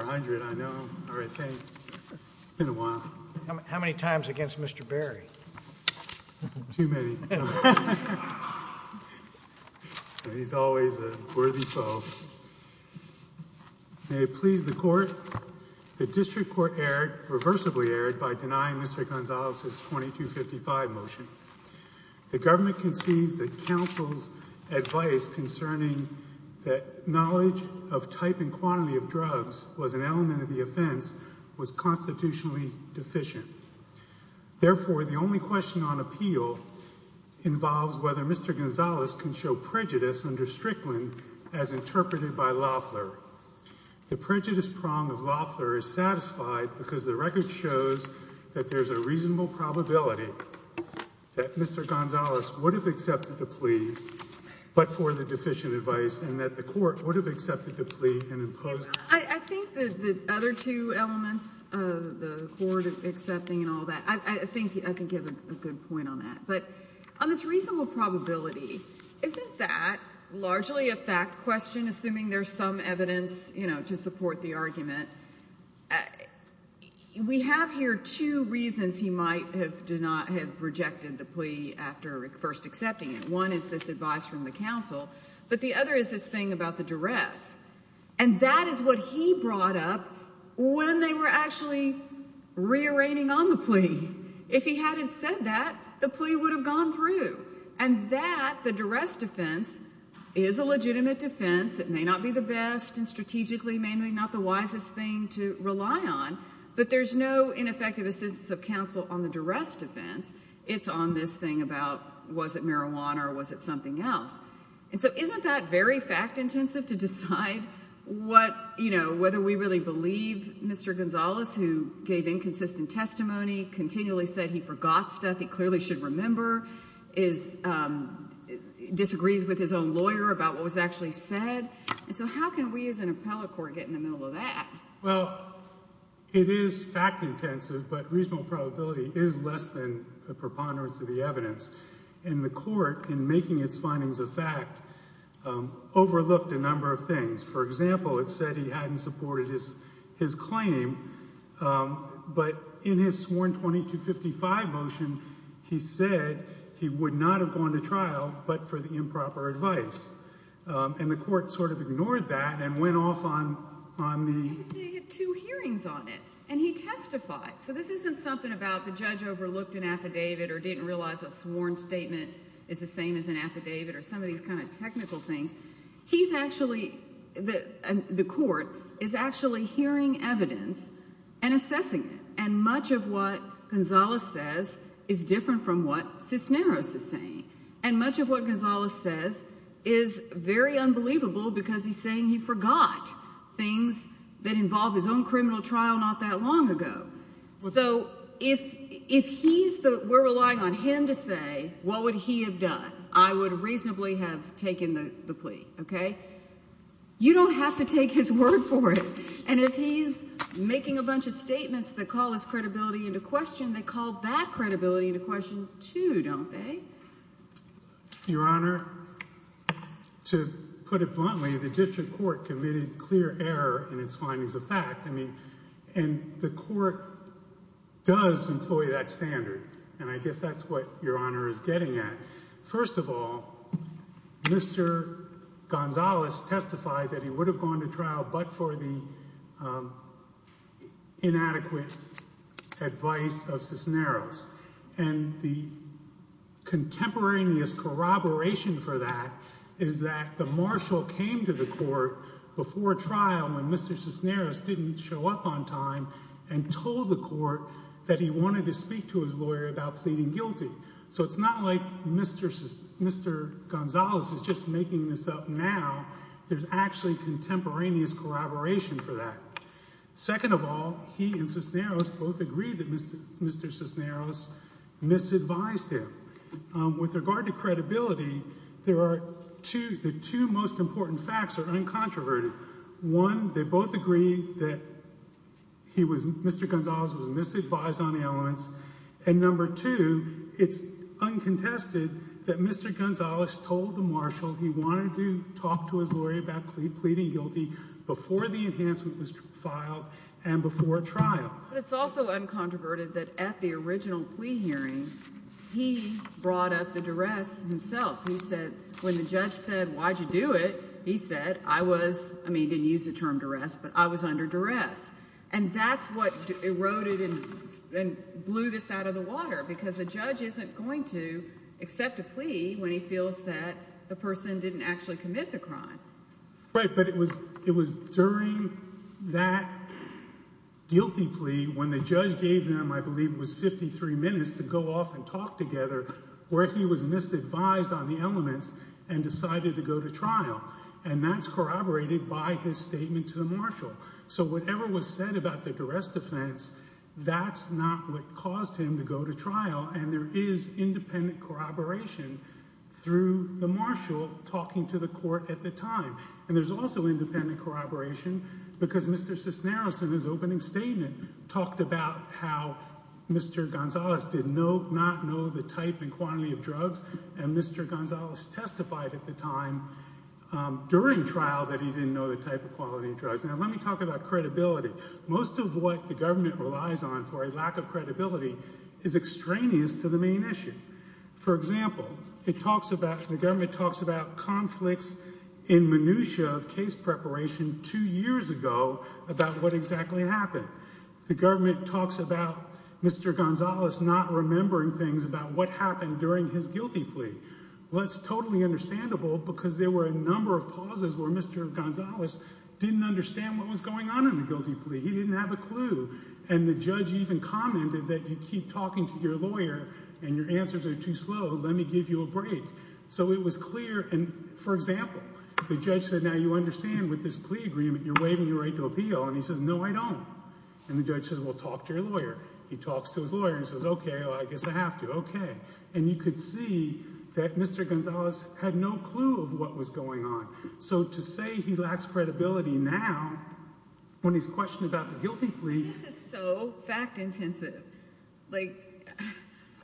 I know. All right, thanks. It's been a while. How many times against Mr. Berry? Too many. He's always a worthy foe. May it please the court, the District Court erred, reversibly erred by denying Mr. Gonzalez's 2255 motion. The government concedes that counsel's advice concerning that knowledge of type and quantity of drugs was an element of the offense was constitutionally deficient. Therefore, the only question on appeal involves whether Mr. Gonzalez can show prejudice under Strickland as interpreted by Loeffler. The prejudice prong of Loeffler is satisfied because the record shows that there's a reasonable probability that Mr. Gonzalez would have accepted the plea, but for the deficient advice, and that the court would have accepted the plea and imposed it. I think the other two elements, the court accepting and all that, I think you have a good point on that. But on this reasonable probability, isn't that largely a fact question, assuming there's some evidence, you know, to support the argument? We have here two reasons he might have rejected the plea after first accepting it. One is this advice from the counsel, but the other is this thing about the duress. And that is what he brought up when they were actually re-arraigning on the plea. If he hadn't said that, the plea would have gone through. And that, the duress defense, is a legitimate defense. It may not be the best and strategically may not be the wisest thing to rely on, but there's no ineffective assistance of counsel on the duress defense. It's on this thing about was it marijuana or was it something else? And so isn't that very fact intensive to decide what, you know, whether we really believe Mr. Gonzalez, who gave inconsistent testimony, continually said he forgot stuff he clearly should remember, disagrees with his own lawyer about what was actually said? And so how can we as an appellate court get in the middle of that? Well, it is fact intensive, but reasonable probability is less than the preponderance of the evidence. And the court, in making its findings of fact, overlooked a number of things. For example, it said he hadn't supported his claim, but in his sworn 2255 motion, he said he would not have gone to trial but for the improper advice. And the two hearings on it and he testified. So this isn't something about the judge overlooked an affidavit or didn't realize a sworn statement is the same as an affidavit or some of these kind of technical things. He's actually the court is actually hearing evidence and assessing it. And much of what Gonzalez says is different from what Cisneros is saying. And much of what Gonzalez says is very unbelievable because he's saying he forgot things that involved his own criminal trial not that long ago. So if if he's the we're relying on him to say, what would he have done? I would reasonably have taken the plea. OK, you don't have to take his word for it. And if he's making a bunch of statements that call his credibility into question, they call that credibility into question, too, don't they? Your Honor, to put it bluntly, the district court committed clear error in its findings of fact. I mean, and the court does employ that standard. And I guess that's what Your Honor is getting at. First of all, Mr. Gonzalez testified that he would have gone to trial but for the inadequate advice of Cisneros. And the contemporaneous corroboration for that is that the marshal came to the court before trial when Mr. Cisneros didn't show up on time and told the court that he wanted to speak to his lawyer about pleading guilty. So it's not like Mr. Gonzalez is just making this up now. There's actually contemporaneous corroboration for that. Second of all, he and Cisneros both agreed that Mr. Cisneros misadvised him. With regard to credibility, there are two, the two most important facts are uncontroverted. One, they both agree that he was, Mr. Gonzalez was misadvised on elements. And number two, it's uncontested that Mr. Gonzalez told the marshal he wanted to talk to his lawyer about pleading guilty before the enhancement was filed and before trial. It's also uncontroverted that at the original plea hearing, he brought up the duress himself. He said, when the judge said, why'd you do it? He said, I was, I mean, he didn't use the term duress, but I was under duress. And that's what eroded and blew this out of the water because a judge isn't going to accept a plea when he feels that the person didn't actually commit the crime. Right. But it was, it was during that guilty plea when the judge gave them, I believe it was 53 minutes to go off and talk together where he was misadvised on the elements and decided to go to trial. And that's corroborated by his statement to the marshal. So whatever was said about the duress defense, that's not what caused him to go to trial. And there is independent corroboration through the marshal talking to the court at the time. And there's also independent corroboration because Mr. Cisneros in his opening statement talked about how Mr. Gonzalez did not know the type and quantity of drugs. And Mr. Gonzalez testified at the time during trial that he didn't know the type of quality of drugs. Now, let me talk about credibility. Most of what the government relies on for a lack of credibility is extraneous to the main issue. For example, it talks about, the government talks about conflicts in minutia of case preparation two years ago about what exactly happened. The government talks about Mr. Gonzalez not remembering things about what happened during his guilty plea. Well, that's totally understandable because there were a number of pauses where Mr. Gonzalez didn't understand what was going on in the case. And the judge even commented that you keep talking to your lawyer and your answers are too slow. Let me give you a break. So it was clear. And for example, the judge said, now you understand with this plea agreement, you're waiving your right to appeal. And he says, no, I don't. And the judge says, well, talk to your lawyer. He talks to his lawyer and says, okay, well, I guess I have to. Okay. And you could see that Mr. Gonzalez had no clue of what was going on. So to say he lacks credibility now when he's questioned about a guilty plea. This is so fact-intensive. Like,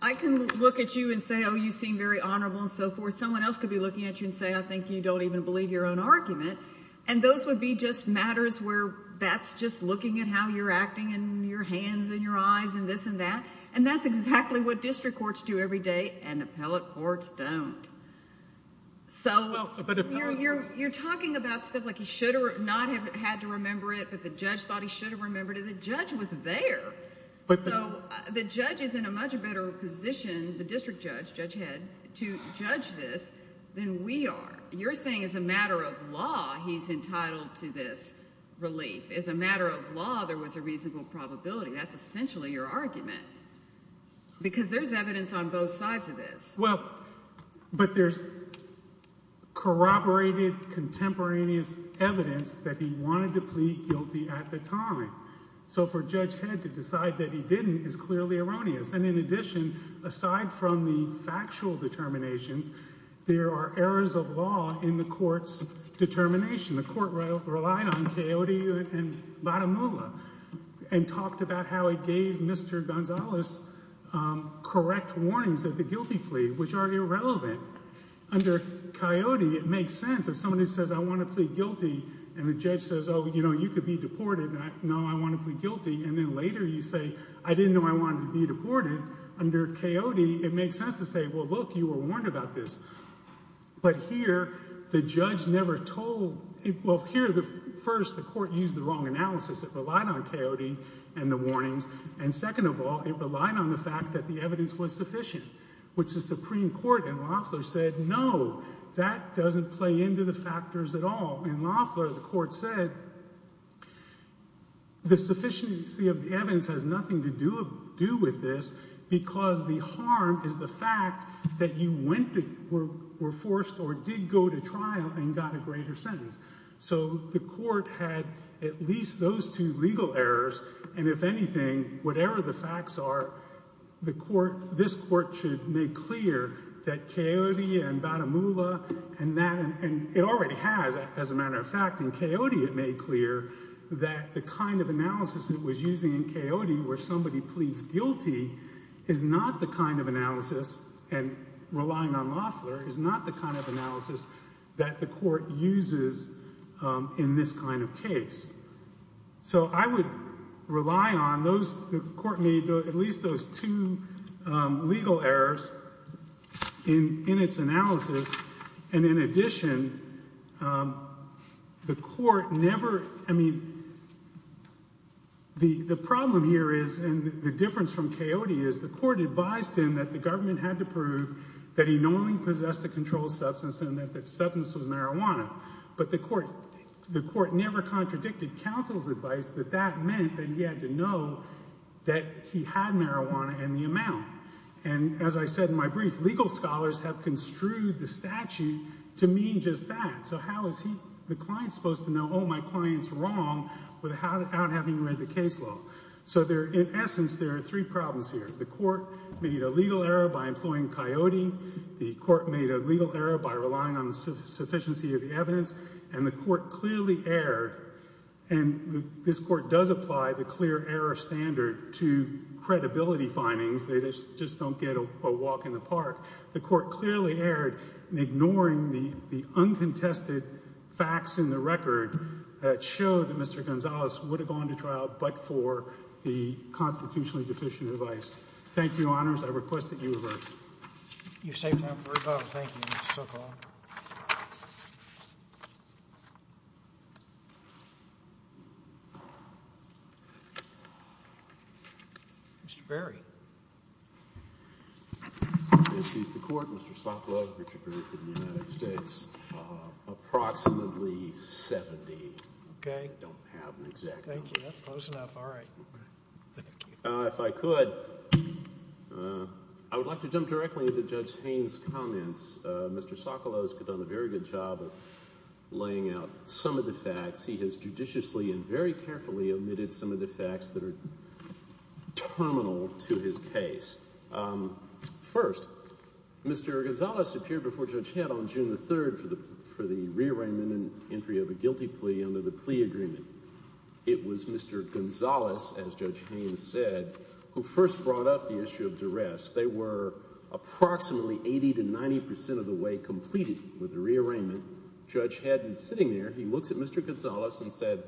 I can look at you and say, oh, you seem very honorable and so forth. Someone else could be looking at you and say, I think you don't even believe your own argument. And those would be just matters where that's just looking at how you're acting and your hands and your eyes and this and that. And that's exactly what district courts do every day, and appellate courts don't. So you're talking about stuff like he should not have had to remember it, but the judge thought he should have remembered it. The judge was there. So the judge is in a much better position, the district judge, judge head, to judge this than we are. You're saying as a matter of law, he's entitled to this relief. As a matter of law, there was a reasonable probability. That's essentially your argument. Because there's evidence on both sides of this. Well, but there's corroborated contemporaneous evidence that he wanted to plead guilty at that time. So for Judge Head to decide that he didn't is clearly erroneous. And in addition, aside from the factual determinations, there are errors of law in the court's determination. The court relied on Coyote and Badamula and talked about how it gave Mr. Gonzalez correct warnings of the guilty plea, which are irrelevant. Under Coyote, it makes sense if somebody says, I want to plead guilty, and the judge says, oh, you know, you could be deported. No, I want to plead guilty. And then later you say, I didn't know I wanted to be deported. Under Coyote, it makes sense to say, well, look, you were warned about this. But here, the judge never told, well, here, first, the court used the wrong analysis. It relied on Coyote and the warnings. And second of all, it relied on the fact that the evidence was sufficient, which the Supreme Court in Loffler said, no, that doesn't play into the factors at all. In Loffler, the court said, the sufficiency of the evidence has nothing to do with this because the harm is the fact that you went to, were forced or did go to trial and got a greater sentence. So the court had at least those two legal errors. And if anything, whatever the facts are, the court, this court should make clear that Coyote and Batamula and that, and it already has, as a matter of fact, in Coyote it made clear that the kind of analysis it was using in Coyote where somebody pleads guilty is not the kind of analysis, and relying on Loffler, is not the kind of analysis that the court uses in this kind of case. So I would rely on those, the court made at least those two legal errors in its analysis. And in addition, the court never, I mean, the problem here is, and the difference from Coyote is, the court advised him that the government had to prove that he not only possessed a controlled substance and that the substance was marijuana, but the court, the court never contradicted counsel's advice that that meant that he had to know that he had marijuana and the amount. And as I said in my brief, legal scholars have construed the statute to mean just that. So how is he, the client, supposed to know, oh, my client's wrong without having read the case law? So there, in essence, there are three problems here. The court made a legal error by employing Coyote. The court made a legal error by relying on the sufficiency of the evidence. And the court clearly erred, and this court does apply the clear error standard to credibility findings. They just don't get a walk in the park. The court clearly erred in ignoring the uncontested facts in the record that show that Mr. Gonzalez would have gone to trial but for the constitutionally deficient advice. Thank you, Your Honors. I request that you revert. You saved time for rebuttal. Thank you, Mr. Sokoloff. Mr. Berry. This is the court. Mr. Sokoloff, Richard Berry for the United States. Approximately 70. Okay. I don't have an exact number. Thank you. That's close enough. All right. If I could, I would like to jump directly into Judge Haynes' comments. Mr. Sokoloff has done a very good job of laying out some of the facts. He has judiciously and very carefully omitted some of the facts that are terminal to his case. First, Mr. Gonzalez appeared before Judge Head on June the 3rd for the rearrangement and entry of a guilty plea under the plea agreement. It was Mr. Gonzalez, as Judge Haynes said, who first brought up the issue of duress. They were approximately 80 to 90 percent of the way completed with the rearrangement. Judge Head was sitting there. He looks at Mr. Gonzalez and said,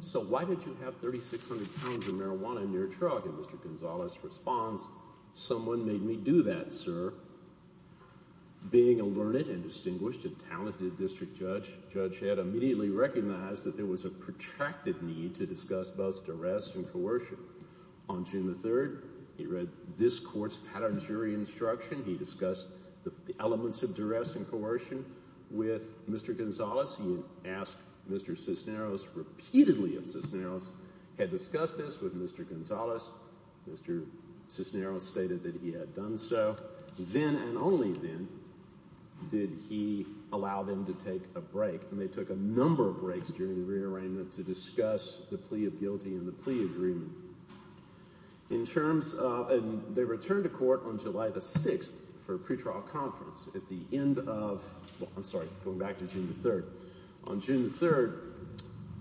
so why did you have 3,600 pounds of marijuana in your truck? And Mr. Gonzalez responds, someone made me do that, sir. Being a learned and distinguished and talented district judge, Judge Head immediately recognized that there was a protracted need to discuss both duress and coercion. On June the 3rd, he read this court's pattern jury instruction. He discussed the elements of duress and coercion with Mr. Gonzalez. He asked Mr. Cisneros repeatedly if Cisneros had discussed this with Mr. Gonzalez. Mr. Cisneros stated that he had done so. Then and only then did he allow them to take a break, and they took a number of breaks during the rearrangement to discuss the plea of guilty and the plea agreement. They returned to court on July the 6th for a pretrial conference. On June the 3rd,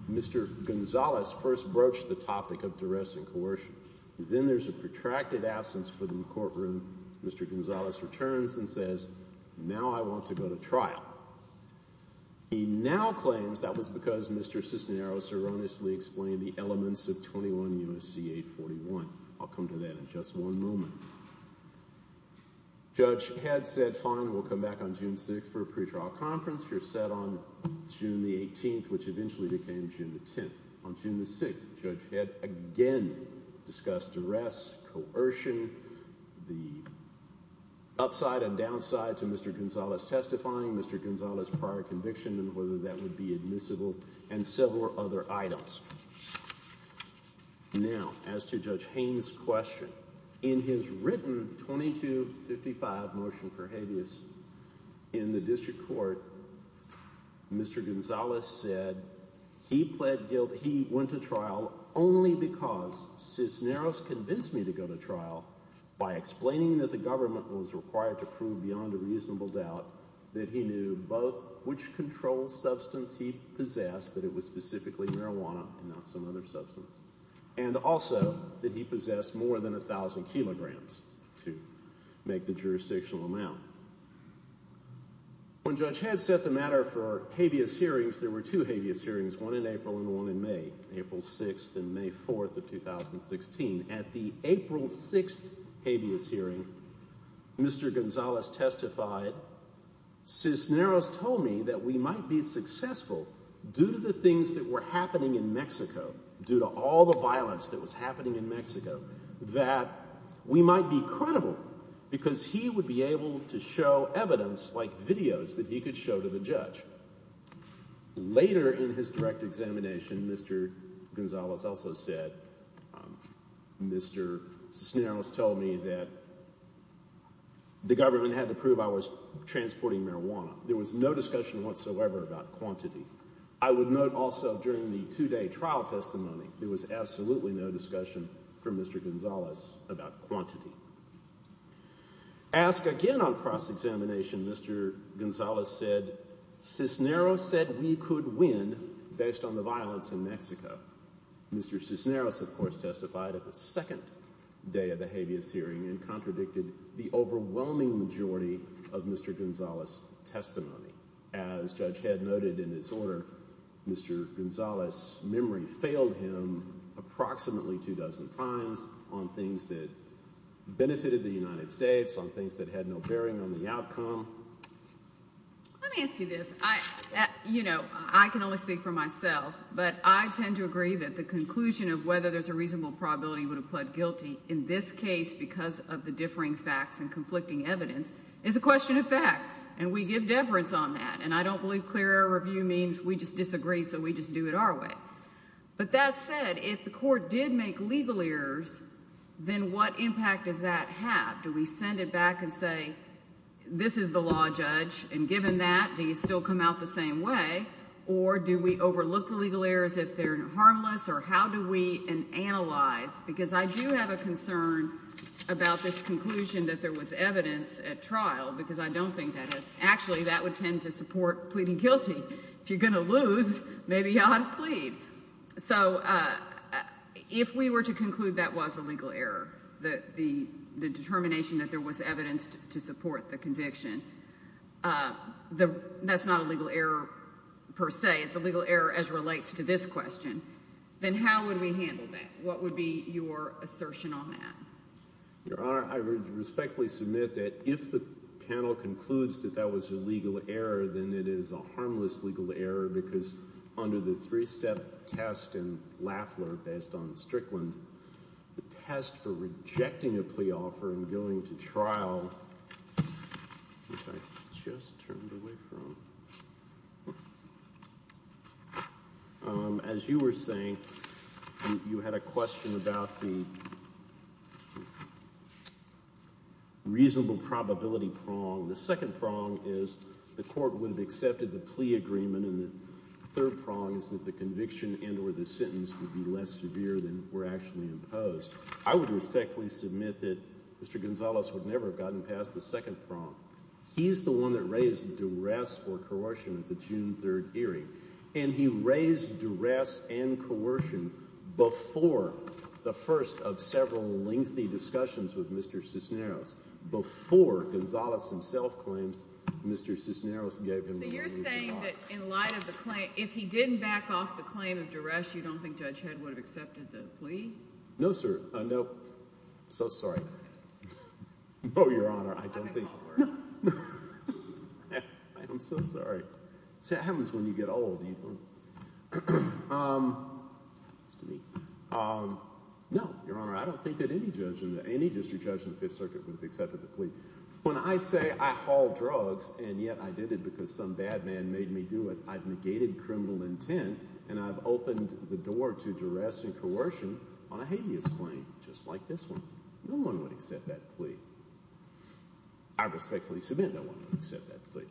Mr. Gonzalez first broached the topic of duress and coercion. Then there's a protracted absence for the courtroom. Mr. Gonzalez returns and says, now I want to go to trial. He now claims that was because Mr. Cisneros erroneously explained the elements of 21 U.S.C. 841. I'll come to that in just one moment. Judge Head said, fine, we'll come back on June 6th for a pretrial conference. You're set on June the 18th, which eventually became June the 20th. The up side and down side to Mr. Gonzalez testifying, Mr. Gonzalez' prior conviction and whether that would be admissible, and several other items. Now, as to Judge Haynes' question, in his written 2255 motion for habeas in the district court, Mr. Gonzalez said he went to trial only because Cisneros convinced me to go to trial by explaining that the government was required to prove beyond a reasonable doubt that he knew both which controlled substance he possessed, that it was specifically marijuana and not some other substance, and also that he possessed more than 1,000 kilograms to make the jurisdictional amount. When Judge Head set the matter for habeas hearings, there were two habeas hearings, one in April and one in May, April 6th and May 4th of 2016. At the April 6th habeas hearing, Mr. Gonzalez testified, Cisneros told me that we might be successful due to the things that were happening in Mexico, due to all the violence that was happening in Mexico, that we might be credible because he would be able to show evidence like videos that he could show to the judge. Later in his direct examination, Mr. Gonzalez also said, Mr. Cisneros told me that the government had to prove I was transporting marijuana. There was no discussion whatsoever about quantity. I would note also during the two-day trial testimony, there was absolutely no discussion from Mr. Gonzalez about quantity. Ask again on cross-examination, Mr. Gonzalez said, Cisneros said we could win based on the violence in Mexico. Mr. Cisneros, of course, testified at the second day of the habeas hearing and contradicted the overwhelming majority of Mr. Gonzalez's testimony. As Judge Head noted in his order, Mr. Gonzalez's memory failed him approximately two dozen times on things that benefited the United States, on things that had no bearing on the outcome. Let me ask you this. You know, I can only speak for myself, but I tend to agree that the conclusion of whether there's a reasonable probability you would have pled guilty in this case because of the differing facts and conflicting evidence is a question of fact, and we give deference on that, and I don't believe clear error review means we just disagree so we just do it our way. But that said, if the court did make legal errors, then what impact does that have? Do we send it back and say, this is the law judge, and given that, do you still come out the same way, or do we overlook the legal errors if they're harmless, or how do we analyze? Because I do have a concern about this conclusion that there was evidence at trial, because I don't think that has, actually, that would tend to support pleading guilty. If you're going to lose, maybe you ought to plead. So, if we were to conclude that was a legal error, the determination that there was evidence to support the conviction, that's not a legal error per se. It's a legal error as relates to this question. Then how would we handle that? What would be your assertion on that? Your Honor, I respectfully submit that if the panel concludes that that was a legal error, then it is a harmless legal error, because under the three-step test in Lafler, based on Strickland, the test for rejecting a plea offer and going to trial, which I just turned away from, as you were saying, you had a question about the reasonable probability prong. The second prong is the court would have accepted the plea agreement, and the third prong is that the conviction and or the sentence would be less severe than were actually imposed. I would respectfully submit that Mr. Gonzalez would never have gotten past the second prong. He's the one that raised duress or coercion at the June 3 hearing, and he raised duress and coercion before the first of several lengthy discussions with Mr. Cisneros, before Gonzalez himself claims Mr. Cisneros gave him the reasonable prong. So you're saying that in light of the claim, if he didn't back off the claim of duress, you don't think Judge Head would have accepted the plea? No, sir. No. I'm so sorry. No, Your Honor, I don't think. I apologize. I'm so sorry. See, it happens when you get old. It happens to me. No, Your Honor, I don't think that any district judge in the Fifth Circuit would have accepted the plea. When I say I haul drugs, and yet I did it because some bad man made me do it, I've negated criminal intent, and I've opened the door to duress and coercion on a habeas claim, just like this one. No one would accept that plea. I respectfully submit no one would accept that plea.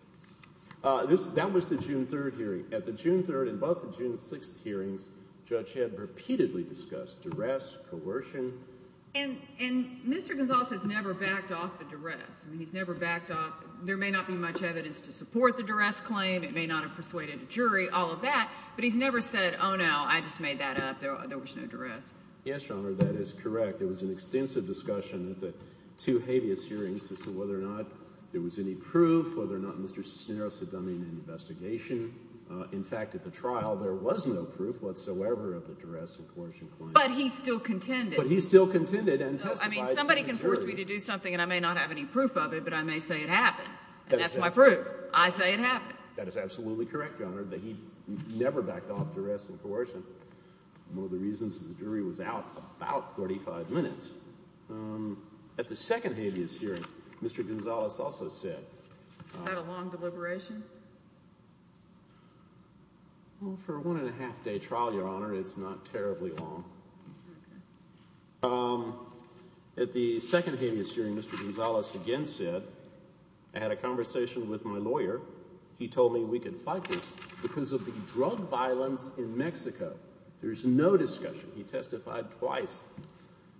That was the June 3 hearing. At the June 3 and both the June 6 hearings, Judge Head repeatedly discussed duress, coercion. And Mr. Gonzalez has never backed off the duress. He's never backed off. There may not be much evidence to support the duress claim. It may not have persuaded a jury, all of that. But he's never said, oh, no, I just made that up. There was no duress. Yes, Your Honor, that is correct. There was an extensive discussion at the two habeas hearings as to whether or not there was any proof, whether or not Mr. Cisneros had done any investigation. In fact, at the trial, there was no proof whatsoever of the duress and coercion claim. But he still contended. But he still contended and testified to the jury. So, I mean, somebody can force me to do something, and I may not have any proof of it, but I may say it happened. And that's my proof. I say it happened. That is absolutely correct, Your Honor, that he never backed off duress and coercion. One of the reasons the jury was out about 35 minutes. At the second habeas hearing, Mr. Gonzalez also said... Is that a long deliberation? Well, for a one and a half day trial, Your Honor, it's not terribly long. At the second habeas hearing, Mr. Gonzalez again said, I had a conversation with my lawyer. He told me we can fight this because of the drug violence in Mexico. There's no discussion. He testified twice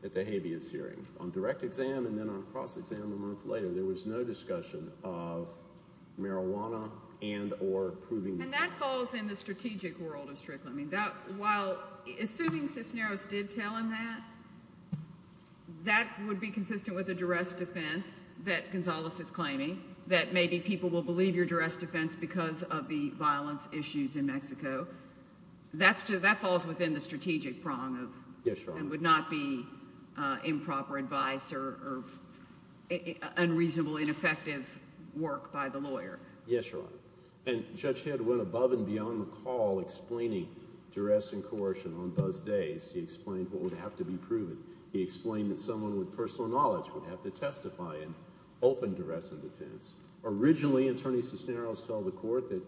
at the habeas hearing, on direct exam and then on cross-exam a month later. There was no discussion of marijuana and or proving... And that falls in the strategic world of strict limiting. While, assuming Cisneros did tell him that, that would be consistent with the duress defense that Gonzalez is claiming, that maybe people will believe your duress defense because of the violence issues in Yes, Your Honor. And would not be improper advice or unreasonable, ineffective work by the lawyer. Yes, Your Honor. And Judge Head went above and beyond the call explaining duress and coercion on those days. He explained what would have to be proven. He explained that someone with personal knowledge would have to testify in open duress and defense. Originally, Attorney Cisneros told the court that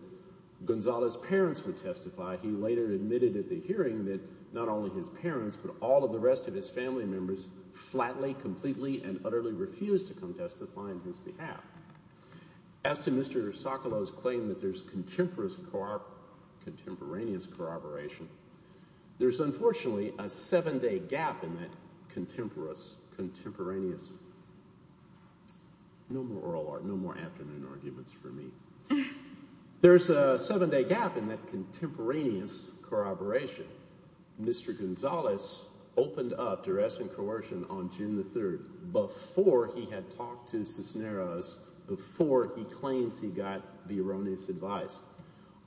Gonzalez's parents would testify. He later admitted at the hearing that not only his parents, but all of the rest of his family members, flatly, completely and utterly refused to come testify on his behalf. As to Mr. Socolow's claim that there's contemporaneous corroboration, there's unfortunately a seven-day gap in that contemporaneous... No more oral art, no more afternoon arguments for me. There's a seven-day gap in that contemporaneous corroboration. Mr. Gonzalez opened up duress and coercion on June the 3rd, before he had talked to Cisneros, before he claims he got the erroneous advice.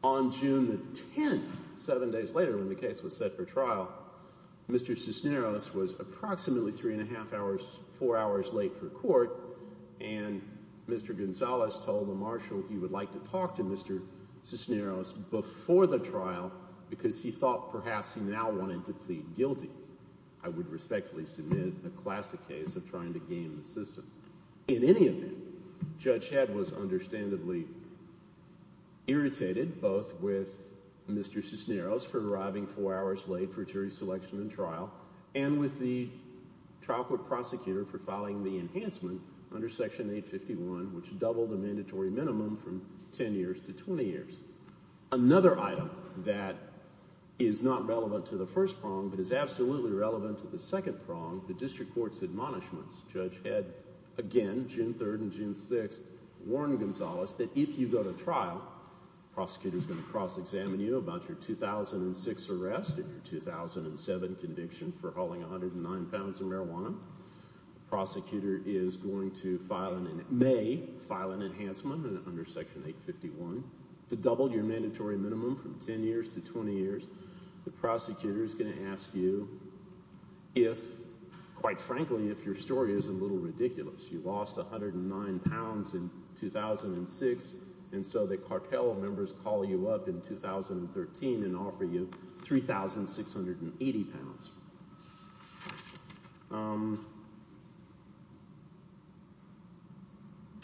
On June the 10th, seven days later when the case was set for trial, Mr. Cisneros was approximately three and a half hours, four hours late for court, and Mr. Gonzalez told the marshal he would like to talk to Mr. Cisneros before the trial because he thought perhaps he now wanted to plead guilty. I would respectfully submit a classic case of trying to game the system. In any event, Judge Head was understandably irritated, both with Mr. Cisneros for arriving four hours late for jury selection and trial, and with the trial court prosecutor for filing the enhancement under Section 851, which doubled the mandatory minimum from 10 years to 20 years. Another item that is not relevant to the first prong, but is absolutely relevant to the second prong, the district court's admonishments. Judge Head again, June 3rd and June 6th, warned Gonzalez that if you go to trial, the prosecutor is going to cross-examine you about your 2006 arrest and your 2007 conviction for hauling 109 pounds of marijuana. The prosecutor is going to file, in May, file an enhancement under Section 851 to double your mandatory minimum from 10 years to 20 years. The prosecutor is going to ask you if, quite frankly, if your story is a little ridiculous. You lost 109 pounds in 2006, and so the cartel members call you up in 2013 and offer you 3,680 pounds.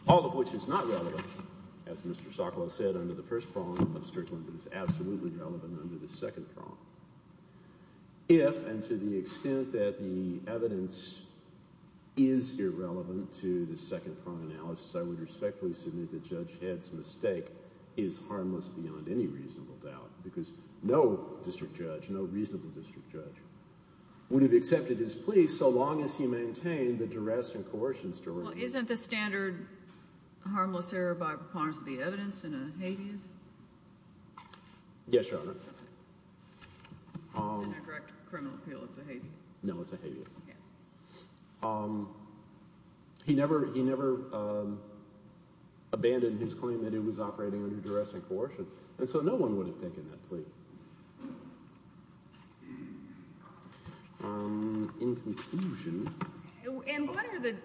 All of which is not relevant, as Mr. Sokolow said, under the first prong, but is absolutely relevant under the second prong. If, and to the extent that the evidence is irrelevant to the second prong analysis, I would respectfully submit that Judge Head's mistake is harmless beyond any reasonable doubt, because no district judge, no reasonable district judge, would have accepted his plea so long as he maintained the duress and coercion story. Well, isn't the standard harmless error by preponderance of the evidence in a habeas? Yes, Your Honor. In a direct criminal appeal, it's a habeas. No, it's a habeas. He never abandoned his claim that he was operating under duress and coercion, and so no one would have taken that plea. In conclusion... And what are the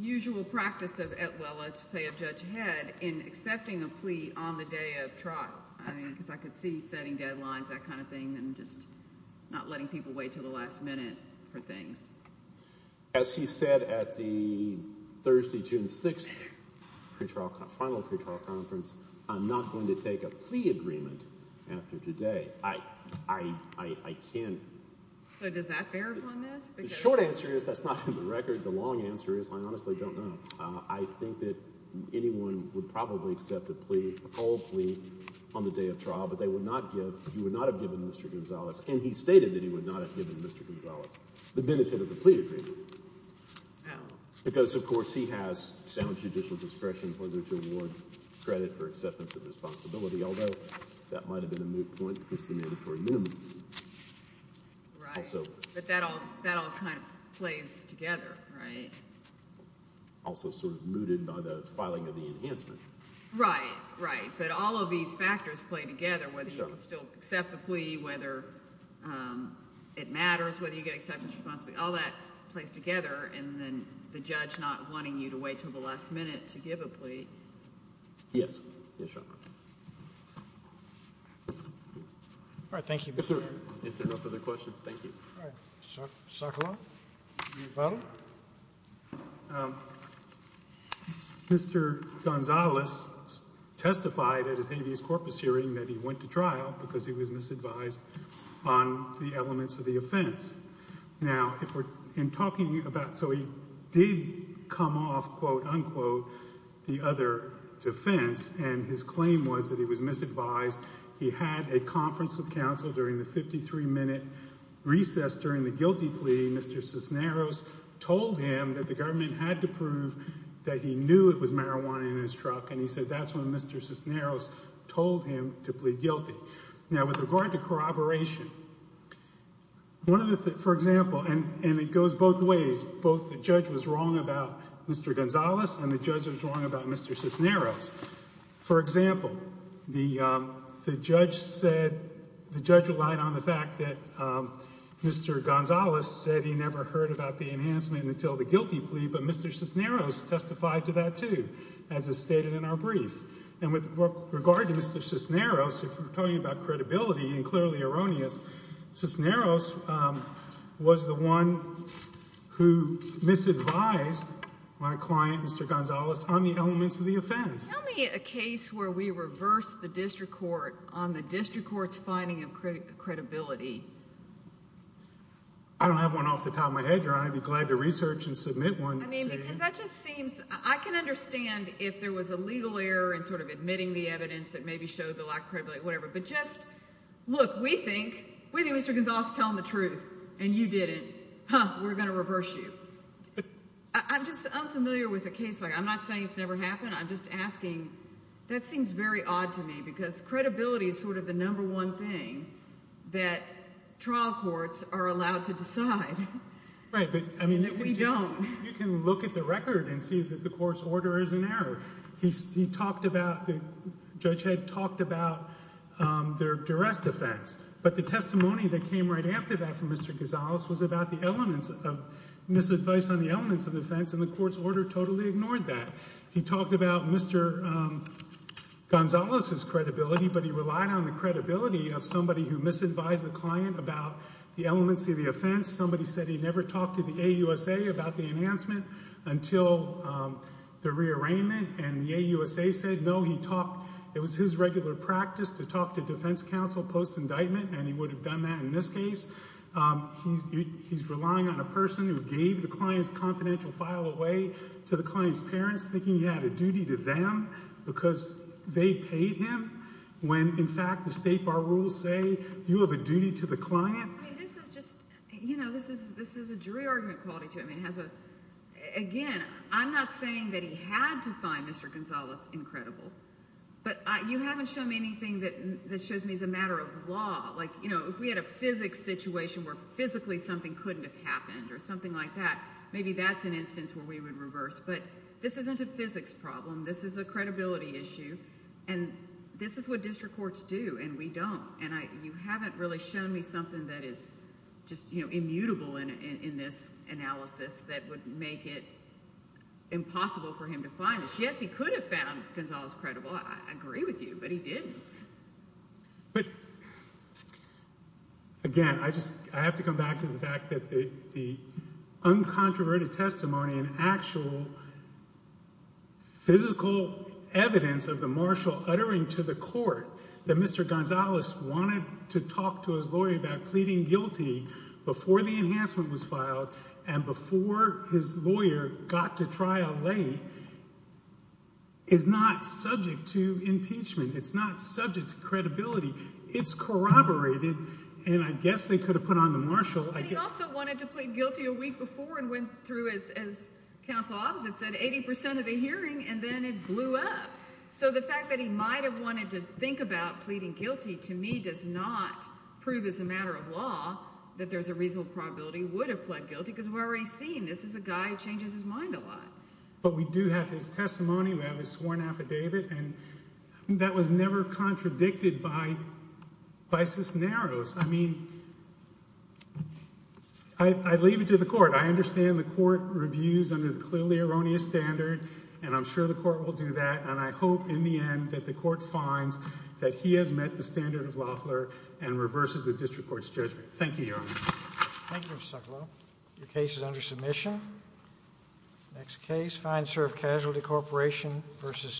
usual practice of, well, let's say of Judge Head, in accepting a plea on the day of trial? I mean, because I could see setting deadlines, that kind of thing, and just not letting people wait until the last minute for things. As he said at the Thursday, June 6th, final pretrial conference, I'm not going to take a plea agreement after today. I can't... So does that bear upon this? The short answer is that's not in the record. The long answer is I honestly don't know. I think that anyone would probably accept a plea, a cold plea, on the day of trial. Well, Mr. Berman, who is the same age as you? Yes, I know Mr. Berman. I know Mr. Gonzalez, and he stated that he would not have given Mr. Gonzalez the benefit of a plea agreement. Wow. Because, of course, he has sound judicial discretion in order to award credit for acceptance of responsibility, although that might have been a moot point It matters whether you get acceptance of responsibility. All that plays together, and then the judge not wanting you to wait until the last minute to give a plea. Yes. Yes, Your Honor. All right. Thank you, Mr. Berman. If there are no further questions, thank you. Mr. Gonzalez testified at his habeas corpus hearing that he went to trial because he was misadvised on the elements of the offense. Now, if we're talking about, so he did come off, quote, unquote, the other defense, and his claim was that he was misadvised. He had a conference with counsel during the 53-minute recess during the guilty plea. Mr. Cisneros told him that the government had to prove that he knew it was marijuana in his truck, and he said that's when Mr. Cisneros told him to plead guilty. Now, with regard to corroboration, one of the, for example, and it goes both ways, both the judge was wrong about Mr. Gonzalez and the judge was wrong about Mr. Cisneros. For example, the judge said, the judge relied on the fact that Mr. Gonzalez said he never heard about the enhancement until the guilty plea, but Mr. Cisneros testified to that, too, as is stated in our brief. And with regard to Mr. Cisneros, if we're talking about credibility and clearly erroneous, Cisneros was the one who misadvised my client, Mr. Gonzalez, on the elements of the offense. Tell me a case where we reversed the district court on the district court's finding of credibility. I don't have one off the top of my head, Your Honor. I'd be glad to research and submit one to you. I mean, because that just seems, I can understand if there was a legal error in sort of admitting the evidence that maybe showed the lack of credibility or whatever, but just, look, we think Mr. Gonzalez is telling the truth and you didn't. Huh, we're going to reverse you. I'm just unfamiliar with a case like that. I'm not saying it's never happened. I'm just asking, that seems very odd to me because credibility is sort of the number one thing that trial courts are allowed to decide. Right, but I mean, you can look at the record and see that the court's order is an error. He talked about, the judge had talked about their duress defense, but the testimony that came right after that from Mr. Gonzalez was about the elements of, misadvice on the elements of the offense and the court's order totally ignored that. He talked about Mr. Gonzalez's credibility, but he relied on the credibility of somebody who misadvised the client about the elements of the offense. Somebody said he never talked to the AUSA about the enhancement until the rearrangement and the AUSA said, no, he talked, it was his regular practice to talk to defense counsel post-indictment and he would have done that in this case. He's relying on a person who gave the client's confidential file away to the client's parents thinking he had a duty to them because they paid him when, in fact, the state bar rules say you have a duty to the client. I mean, this is just, you know, this is a jury argument to him. Again, I'm not saying that he had to find Mr. Gonzalez incredible, but you haven't shown me anything that shows me as a matter of law. Like, you know, if we had a physics situation where physically something couldn't have happened or something like that, maybe that's an instance where we would reverse, but this isn't a physics problem. This is a credibility issue and this is what district courts do and we don't. And you haven't really shown me something that is just, you know, immutable in this analysis that would make it impossible for him to find this. Yes, he could have found Gonzalez incredible. I agree with you, but he didn't. But, again, I just, I have to come back to the fact that the uncontroverted testimony and actual physical evidence of the marshal uttering to the court that Mr. Gonzalez wanted to talk to his lawyer about pleading guilty before the enhancement was filed and before his lawyer got to trial late is not subject to impeachment. It's not subject to credibility. It's corroborated, and I guess they could have put on the marshal. But he also wanted to plead guilty a week before and went through, as counsel opposite said, 80 percent of the hearing and then it blew up. So the fact that he might have wanted to think about pleading guilty to me does not prove as a matter of law that there's a reasonable probability he would have pled guilty because we're already seeing this is a guy who changes his mind a lot. But we do have his testimony, we have his sworn affidavit, and that was never contradicted by Cisneros. I mean, I leave it to the court. I understand the court reviews under the clearly erroneous standard, and I'm sure the court will do that, and I hope in the end that the court finds that he has met the standard of Loeffler and reverses the district court's judgment. Thank you, Your Honor.